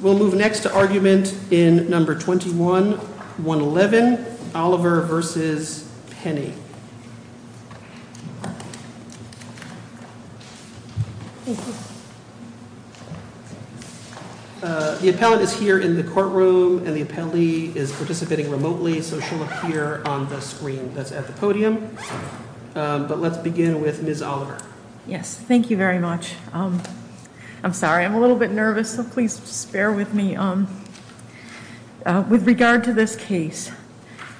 We'll move next to argument in number 21, 111, Oliver v. Penny. The appellant is here in the courtroom and the appellee is participating remotely, so she'll appear on the screen that's at the podium. But let's begin with Ms. Oliver. Yes, thank you very much. I'm sorry, I'm a little bit nervous, so please bear with me. With regard to this case,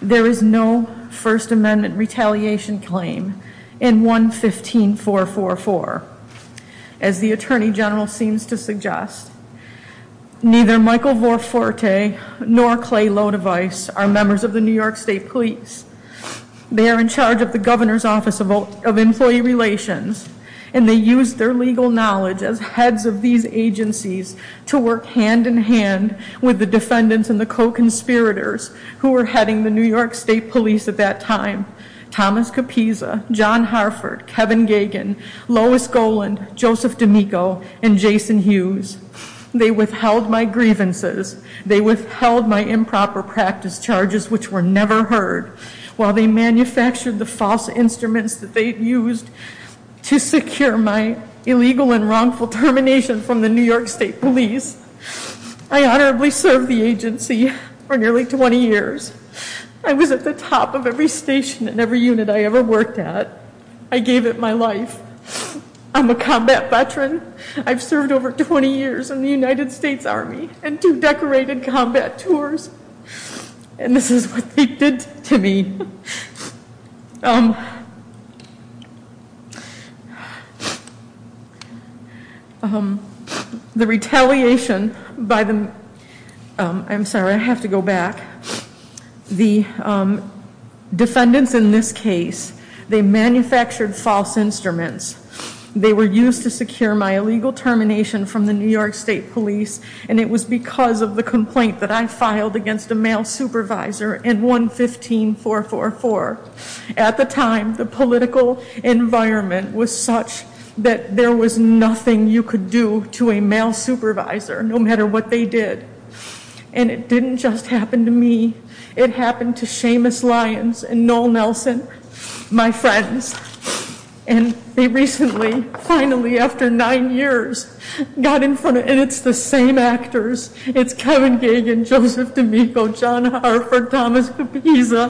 there is no First Amendment retaliation claim in 115444. As the Attorney General seems to suggest, neither Michael Vorforte nor Clay Lodeweiss are members of the New York State Police. They are in charge of the Governor's Office of Employee Relations. And they use their legal knowledge as heads of these agencies to work hand in hand with the defendants and the co-conspirators who were heading the New York State Police at that time. Thomas Capisa, John Harford, Kevin Gagen, Lois Goland, Joseph D'Amico, and Jason Hughes. They withheld my grievances. They withheld my improper practice charges, which were never heard. While they manufactured the false instruments that they used to secure my illegal and wrongful termination from the New York State Police. I honorably served the agency for nearly 20 years. I was at the top of every station and every unit I ever worked at. I gave it my life. I'm a combat veteran. I've served over 20 years in the United States Army and two decorated combat tours. And this is what they did to me. The retaliation by the, I'm sorry, I have to go back. The defendants in this case, they manufactured false instruments. They were used to secure my illegal termination from the New York State Police. And it was because of the complaint that I filed against a male supervisor in 115444. At the time, the political environment was such that there was nothing you could do to a male supervisor, no matter what they did. And it didn't just happen to me. It happened to Seamus Lyons and Noel Nelson, my friends. And they recently, finally, after nine years, got in front of, and it's the same actors. It's Kevin Gagan, Joseph D'Amico, John Hartford, Thomas Kapisa.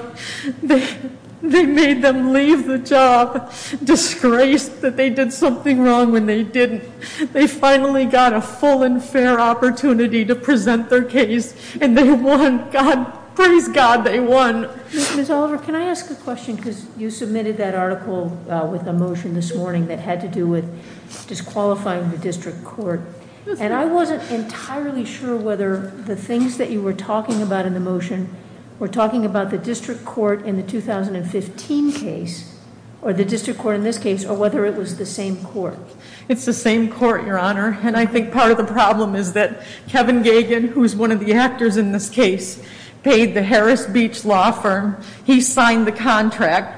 They made them leave the job, disgraced that they did something wrong when they didn't. They finally got a full and fair opportunity to present their case, and they won. God, praise God, they won. Ms. Oliver, can I ask a question? Because you submitted that article with a motion this morning that had to do with disqualifying the district court. And I wasn't entirely sure whether the things that you were talking about in the motion were talking about the district court in the 2015 case, or the district court in this case, or whether it was the same court. It's the same court, Your Honor. And I think part of the problem is that Kevin Gagan, who is one of the actors in this case, paid the Harris Beach Law Firm. He signed the contract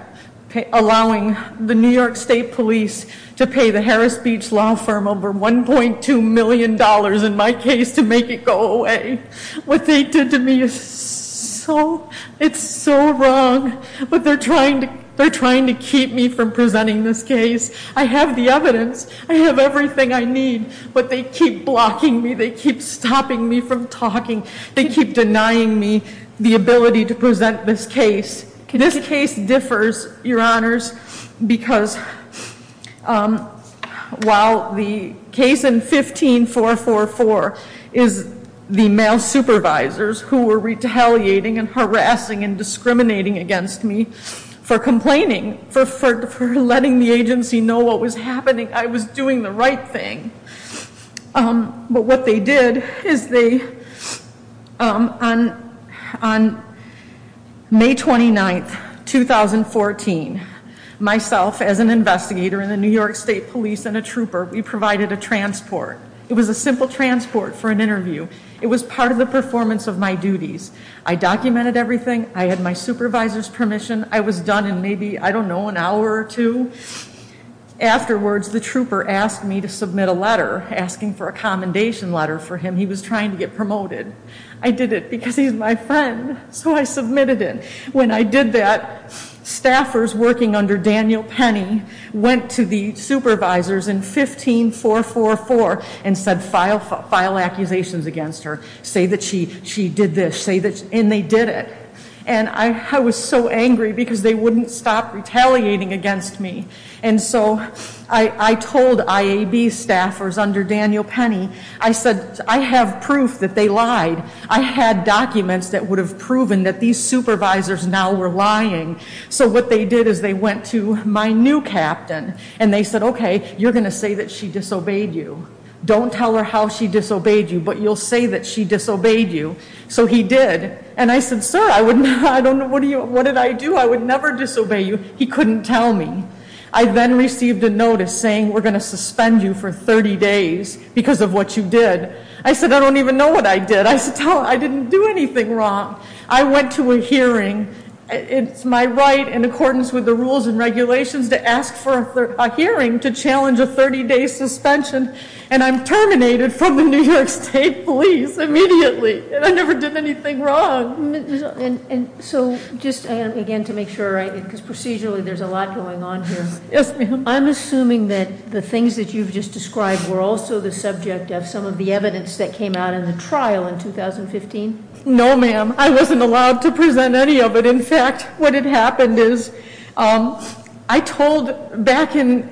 allowing the New York State Police to pay the Harris Beach Law Firm over $1.2 million in my case to make it go away. What they did to me is so, it's so wrong. But they're trying to keep me from presenting this case. I have the evidence. I have everything I need. But they keep blocking me. They keep stopping me from talking. They keep denying me the ability to present this case. This case differs, Your Honors, because while the case in 15444 is the male supervisors who were retaliating and harassing and discriminating against me for complaining, for letting the agency know what was happening, I was doing the right thing. But what they did is they, on May 29, 2014, myself as an investigator in the New York State Police and a trooper, we provided a transport. It was a simple transport for an interview. It was part of the performance of my duties. I documented everything. I had my supervisor's permission. I was done in maybe, I don't know, an hour or two. Afterwards, the trooper asked me to submit a letter asking for a commendation letter for him. He was trying to get promoted. I did it because he's my friend, so I submitted it. When I did that, staffers working under Daniel Penny went to the supervisors in 15444 and said file accusations against her. Say that she did this. And they did it. And I was so angry because they wouldn't stop retaliating against me. And so I told IAB staffers under Daniel Penny, I said, I have proof that they lied. I had documents that would have proven that these supervisors now were lying. So what they did is they went to my new captain and they said, okay, you're going to say that she disobeyed you. Don't tell her how she disobeyed you, but you'll say that she disobeyed you. So he did. And I said, sir, I don't know what did I do. I would never disobey you. He couldn't tell me. I then received a notice saying we're going to suspend you for 30 days because of what you did. I said, I don't even know what I did. I didn't do anything wrong. I went to a hearing. It's my right in accordance with the rules and regulations to ask for a hearing to challenge a 30-day suspension. And I'm terminated from the New York State Police immediately. And I never did anything wrong. And so just again to make sure, because procedurally there's a lot going on here. Yes, ma'am. I'm assuming that the things that you've just described were also the subject of some of the evidence that came out in the trial in 2015? No, ma'am. I wasn't allowed to present any of it. In fact, what had happened is I told back in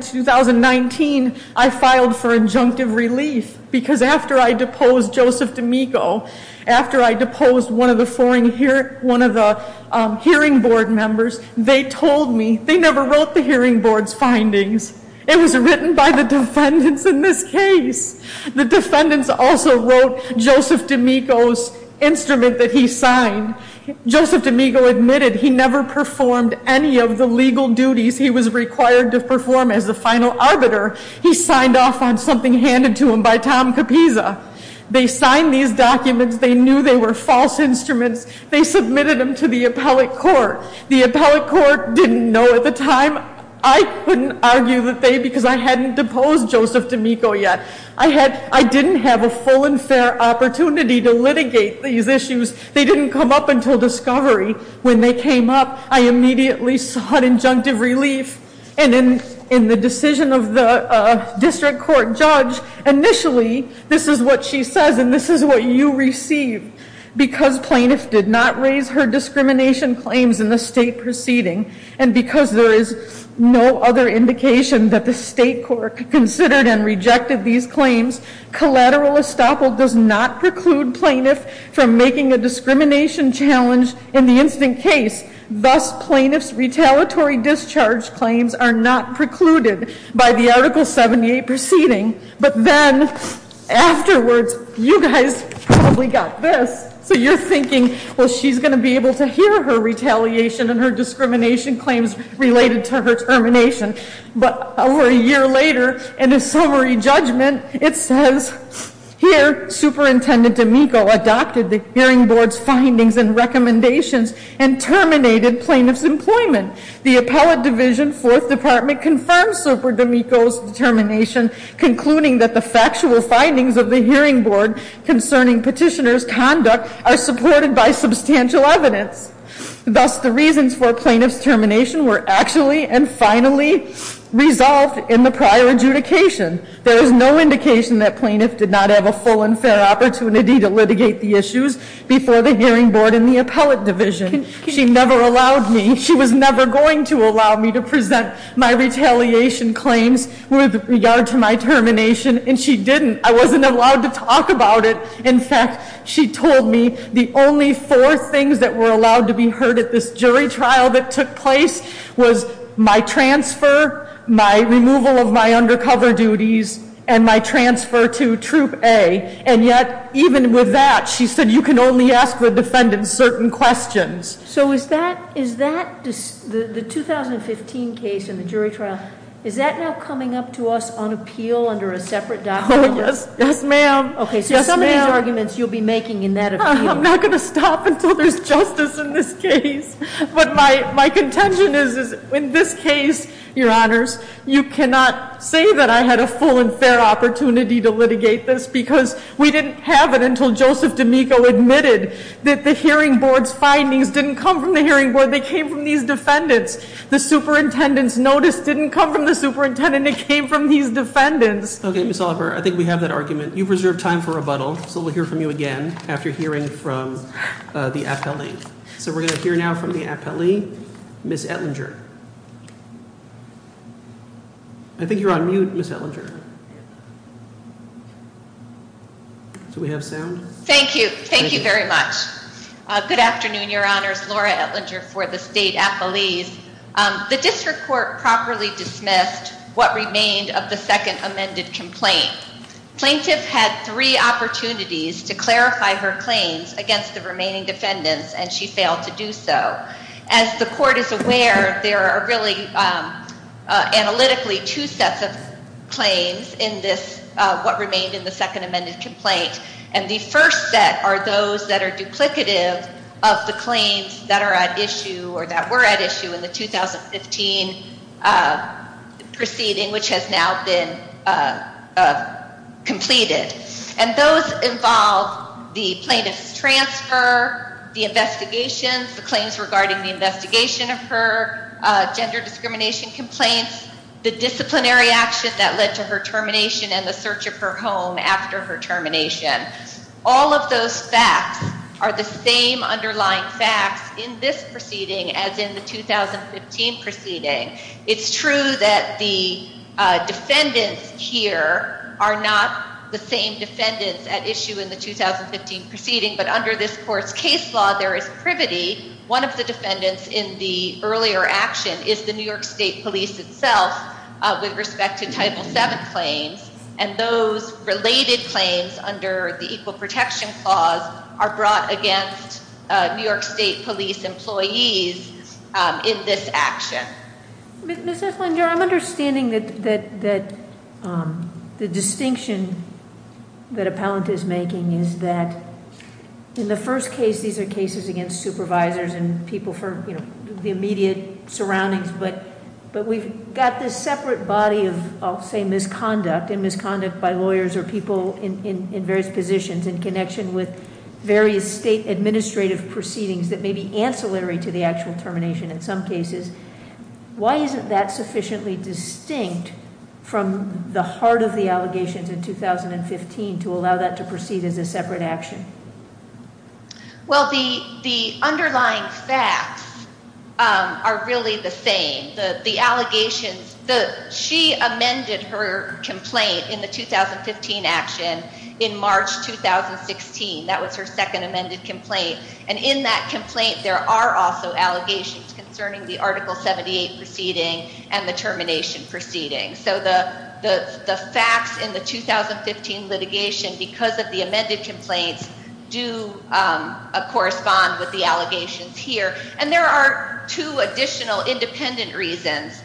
2019 I filed for injunctive relief because after I deposed Joseph D'Amico, after I deposed one of the hearing board members, they told me they never wrote the hearing board's findings. It was written by the defendants in this case. The defendants also wrote Joseph D'Amico's instrument that he signed. Joseph D'Amico admitted he never performed any of the legal duties he was required to perform as the final arbiter. He signed off on something handed to him by Tom Capisa. They signed these documents. They knew they were false instruments. They submitted them to the appellate court. The appellate court didn't know at the time. I couldn't argue that they, because I hadn't deposed Joseph D'Amico yet. I didn't have a full and fair opportunity to litigate these issues. They didn't come up until discovery. When they came up, I immediately sought injunctive relief. And in the decision of the district court judge, initially, this is what she says and this is what you receive. Because plaintiff did not raise her discrimination claims in the state proceeding, and because there is no other indication that the state court considered and rejected these claims, collateral estoppel does not preclude plaintiff from making a discrimination challenge in the instant case. Thus, plaintiff's retaliatory discharge claims are not precluded by the Article 78 proceeding. But then, afterwards, you guys probably got this. So you're thinking, well, she's going to be able to hear her retaliation and her discrimination claims related to her termination. But over a year later, in a summary judgment, it says, Here, Superintendent D'Amico adopted the hearing board's findings and recommendations and terminated plaintiff's employment. The appellate division, fourth department, confirmed Superintendent D'Amico's determination, concluding that the factual findings of the hearing board concerning petitioner's conduct are supported by substantial evidence. Thus, the reasons for plaintiff's termination were actually and finally resolved in the prior adjudication. There is no indication that plaintiff did not have a full and fair opportunity to litigate the issues before the hearing board and the appellate division. She never allowed me, she was never going to allow me to present my retaliation claims with regard to my termination, and she didn't. I wasn't allowed to talk about it. In fact, she told me the only four things that were allowed to be heard at this jury trial that took place was my transfer, my removal of my undercover duties, and my transfer to Troop A. And yet, even with that, she said you can only ask the defendant certain questions. So is that, the 2015 case in the jury trial, is that now coming up to us on appeal under a separate document? Yes, ma'am. Okay, so some of these arguments you'll be making in that appeal. I'm not going to stop until there's justice in this case. But my contention is, in this case, your honors, you cannot say that I had a full and fair opportunity to litigate this because we didn't have it until Joseph D'Amico admitted that the hearing board's findings didn't come from the hearing board, they came from these defendants. The superintendent's notice didn't come from the superintendent, it came from these defendants. Okay, Ms. Oliver, I think we have that argument. You've reserved time for rebuttal, so we'll hear from you again after hearing from the appellate. So we're going to hear now from the appellee, Ms. Ettinger. I think you're on mute, Ms. Ettinger. Do we have sound? Thank you. Thank you very much. Good afternoon, your honors. Laura Ettinger for the state appellees. The district court properly dismissed what remained of the second amended complaint. Plaintiff had three opportunities to clarify her claims against the remaining defendants, and she failed to do so. As the court is aware, there are really, analytically, two sets of claims in this, what remained in the second amended complaint. And the first set are those that are duplicative of the claims that are at issue or that were at issue in the 2015 proceeding, which has now been completed. And those involve the plaintiff's transfer, the investigations, the claims regarding the investigation of her gender discrimination complaints, the disciplinary action that led to her termination, and the search of her home after her termination. All of those facts are the same underlying facts in this proceeding as in the 2015 proceeding. It's true that the defendants here are not the same defendants at issue in the 2015 proceeding. But under this court's case law, there is privity. One of the defendants in the earlier action is the New York State Police itself with respect to Title VII claims. And those related claims under the Equal Protection Clause are brought against New York State Police employees in this action. Ms. Eslander, I'm understanding that the distinction that appellant is making is that, in the first case, these are cases against supervisors and people for the immediate surroundings. But we've got this separate body of, I'll say, misconduct, and misconduct by lawyers or people in various positions in connection with various state administrative proceedings that may be ancillary to the actual termination in some cases. Why isn't that sufficiently distinct from the heart of the allegations in 2015 to allow that to proceed as a separate action? Well, the underlying facts are really the same. The allegations, she amended her complaint in the 2015 action in March 2016. That was her second amended complaint. And in that complaint, there are also allegations concerning the Article 78 proceeding and the termination proceeding. So the facts in the 2015 litigation, because of the amended complaints, do correspond with the allegations here. And there are two additional independent reasons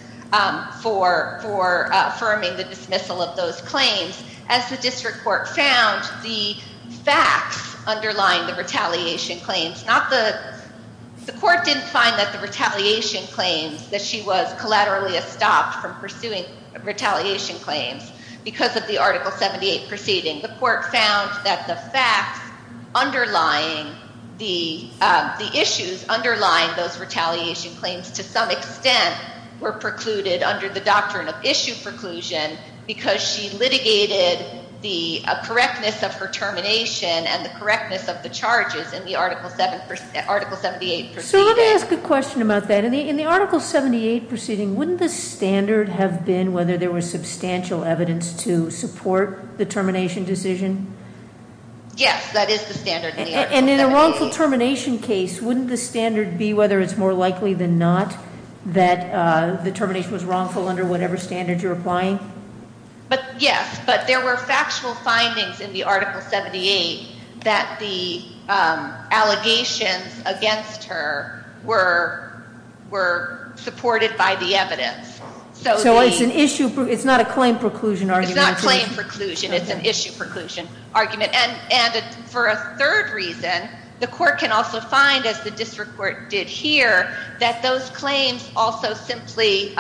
for affirming the dismissal of those claims. As the district court found, the facts underline the retaliation claims. The court didn't find that the retaliation claims that she was collaterally estopped from pursuing retaliation claims because of the Article 78 proceeding. The court found that the issues underlying those retaliation claims, to some extent, were precluded under the doctrine of issue preclusion because she litigated the correctness of her termination and the correctness of the charges in the Article 78 proceeding. So let me ask a question about that. In the Article 78 proceeding, wouldn't the standard have been whether there was substantial evidence to support the termination decision? Yes, that is the standard in the Article 78. And in a wrongful termination case, wouldn't the standard be whether it's more likely than not that the termination was wrongful under whatever standard you're applying? Yes, but there were factual findings in the Article 78 that the allegations against her were supported by the evidence. So it's not a claim preclusion argument? It's not claim preclusion. It's an issue preclusion argument. And for a third reason, the court can also find, as the district court did here, that those claims also simply,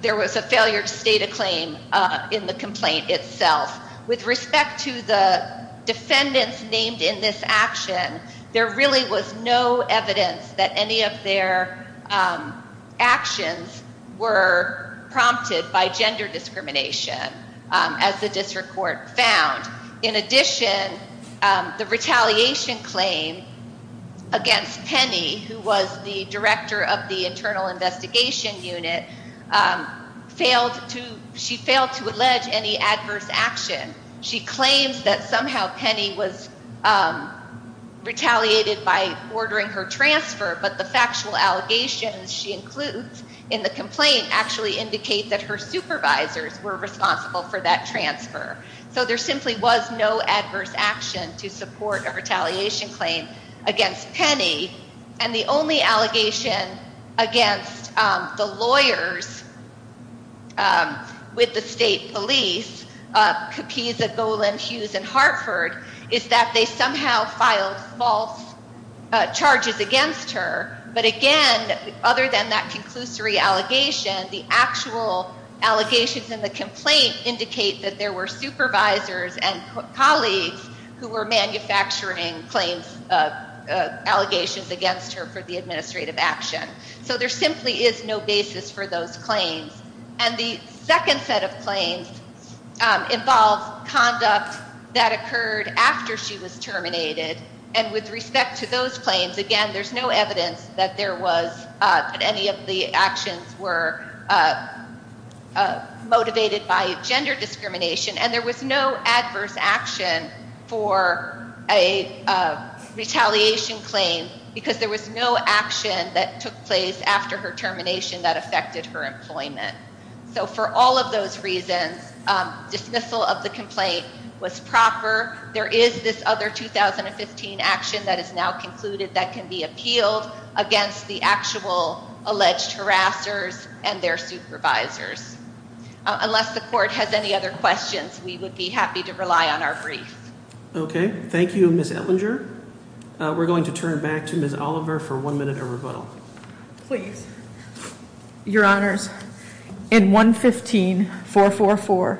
there was a failure to state a claim in the complaint itself. With respect to the defendants named in this action, there really was no evidence that any of their actions were prompted by gender discrimination, as the district court found. In addition, the retaliation claim against Penny, who was the director of the Internal Investigation Unit, she failed to allege any adverse action. She claims that somehow Penny was retaliated by ordering her transfer, but the factual allegations she includes in the complaint actually indicate that her supervisors were responsible for that transfer. So there simply was no adverse action to support a retaliation claim against Penny. And the only allegation against the lawyers with the state police, Capisa, Golan, Hughes, and Hartford, is that they somehow filed false charges against her. But again, other than that conclusory allegation, the actual allegations in the complaint indicate that there were supervisors and colleagues who were manufacturing claims, allegations against her for the administrative action. So there simply is no basis for those claims. And the second set of claims involved conduct that occurred after she was terminated, and with respect to those claims, again, there's no evidence that there was, that any of the actions were motivated by gender discrimination. And there was no adverse action for a retaliation claim because there was no action that took place after her termination that affected her employment. So for all of those reasons, dismissal of the complaint was proper. There is this other 2015 action that is now concluded that can be appealed against the actual alleged harassers and their supervisors. Unless the court has any other questions, we would be happy to rely on our brief. Okay. Thank you, Ms. Ellinger. We're going to turn back to Ms. Oliver for one minute of rebuttal. Please. Your Honors, in 115444,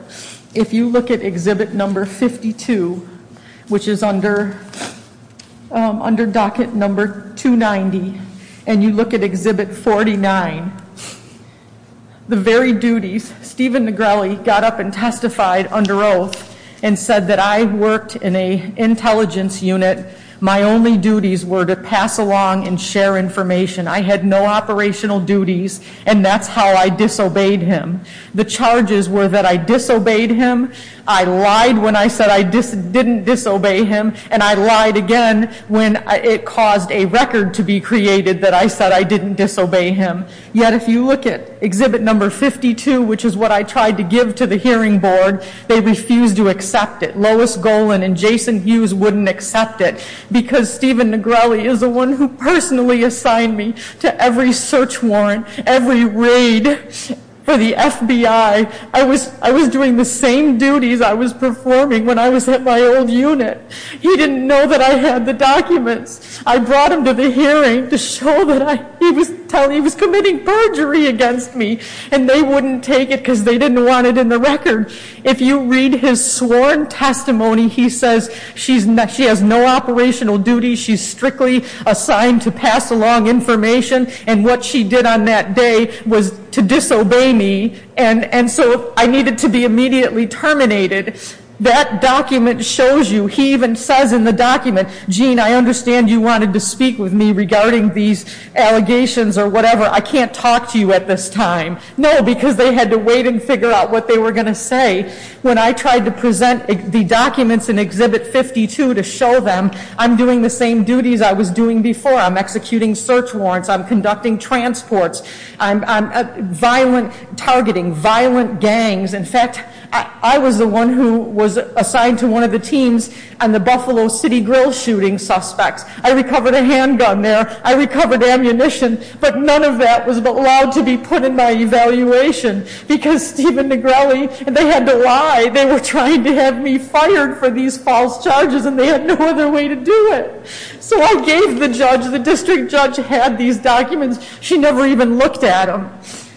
if you look at Exhibit No. 52, which is under docket No. 290, and you look at Exhibit 49, the very duties, Stephen Negrelli got up and testified under oath and said that I worked in an intelligence unit. My only duties were to pass along and share information. I had no operational duties, and that's how I disobeyed him. The charges were that I disobeyed him, I lied when I said I didn't disobey him, and I lied again when it caused a record to be created that I said I didn't disobey him. Yet if you look at Exhibit No. 52, which is what I tried to give to the hearing board, they refused to accept it. Lois Golan and Jason Hughes wouldn't accept it because Stephen Negrelli is the one who personally assigned me to every search warrant, every raid for the FBI. I was doing the same duties I was performing when I was at my old unit. He didn't know that I had the documents. I brought him to the hearing to show that he was committing perjury against me, and they wouldn't take it because they didn't want it in the record. If you read his sworn testimony, he says she has no operational duties, she's strictly assigned to pass along information, and what she did on that day was to disobey me, and so I needed to be immediately terminated. That document shows you, he even says in the document, Gene, I understand you wanted to speak with me regarding these allegations or whatever. I can't talk to you at this time. No, because they had to wait and figure out what they were going to say. When I tried to present the documents in Exhibit 52 to show them, I'm doing the same duties I was doing before. I'm executing search warrants. I'm conducting transports. I'm targeting violent gangs. In fact, I was the one who was assigned to one of the teams and the Buffalo City Grill shooting suspects. I recovered a handgun there. I recovered ammunition. But none of that was allowed to be put in my evaluation because Stephen Negrelli, they had to lie. They were trying to have me fired for these false charges, and they had no other way to do it. So I gave the judge. The district judge had these documents. She never even looked at them.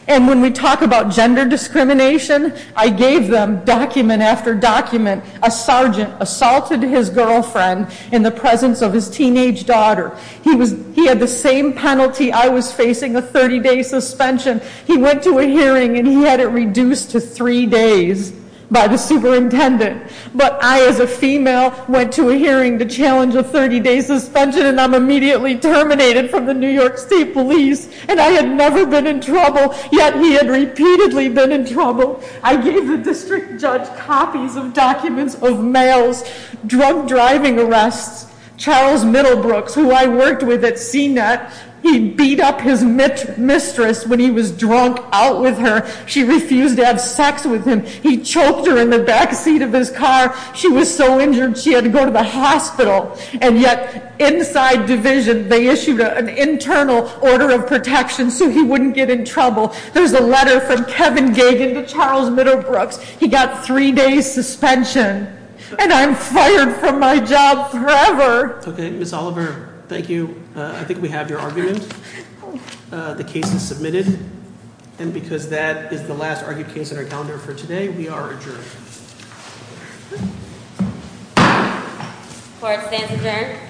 And when we talk about gender discrimination, I gave them document after document. A sergeant assaulted his girlfriend in the presence of his teenage daughter. He had the same penalty I was facing, a 30-day suspension. He went to a hearing, and he had it reduced to three days by the superintendent. But I, as a female, went to a hearing to challenge a 30-day suspension, and I'm immediately terminated from the New York State Police. And I had never been in trouble, yet he had repeatedly been in trouble. I gave the district judge copies of documents of males, drug driving arrests, Charles Middlebrooks, who I worked with at CNET, he beat up his mistress when he was drunk out with her. She refused to have sex with him. He choked her in the back seat of his car. She was so injured she had to go to the hospital. And yet, inside division, they issued an internal order of protection so he wouldn't get in trouble. There's a letter from Kevin Gagen to Charles Middlebrooks. He got three days suspension. And I'm fired from my job forever. Okay, Ms. Oliver, thank you. I think we have your argument. The case is submitted. And because that is the last argued case on our calendar for today, we are adjourned. Court stands adjourned.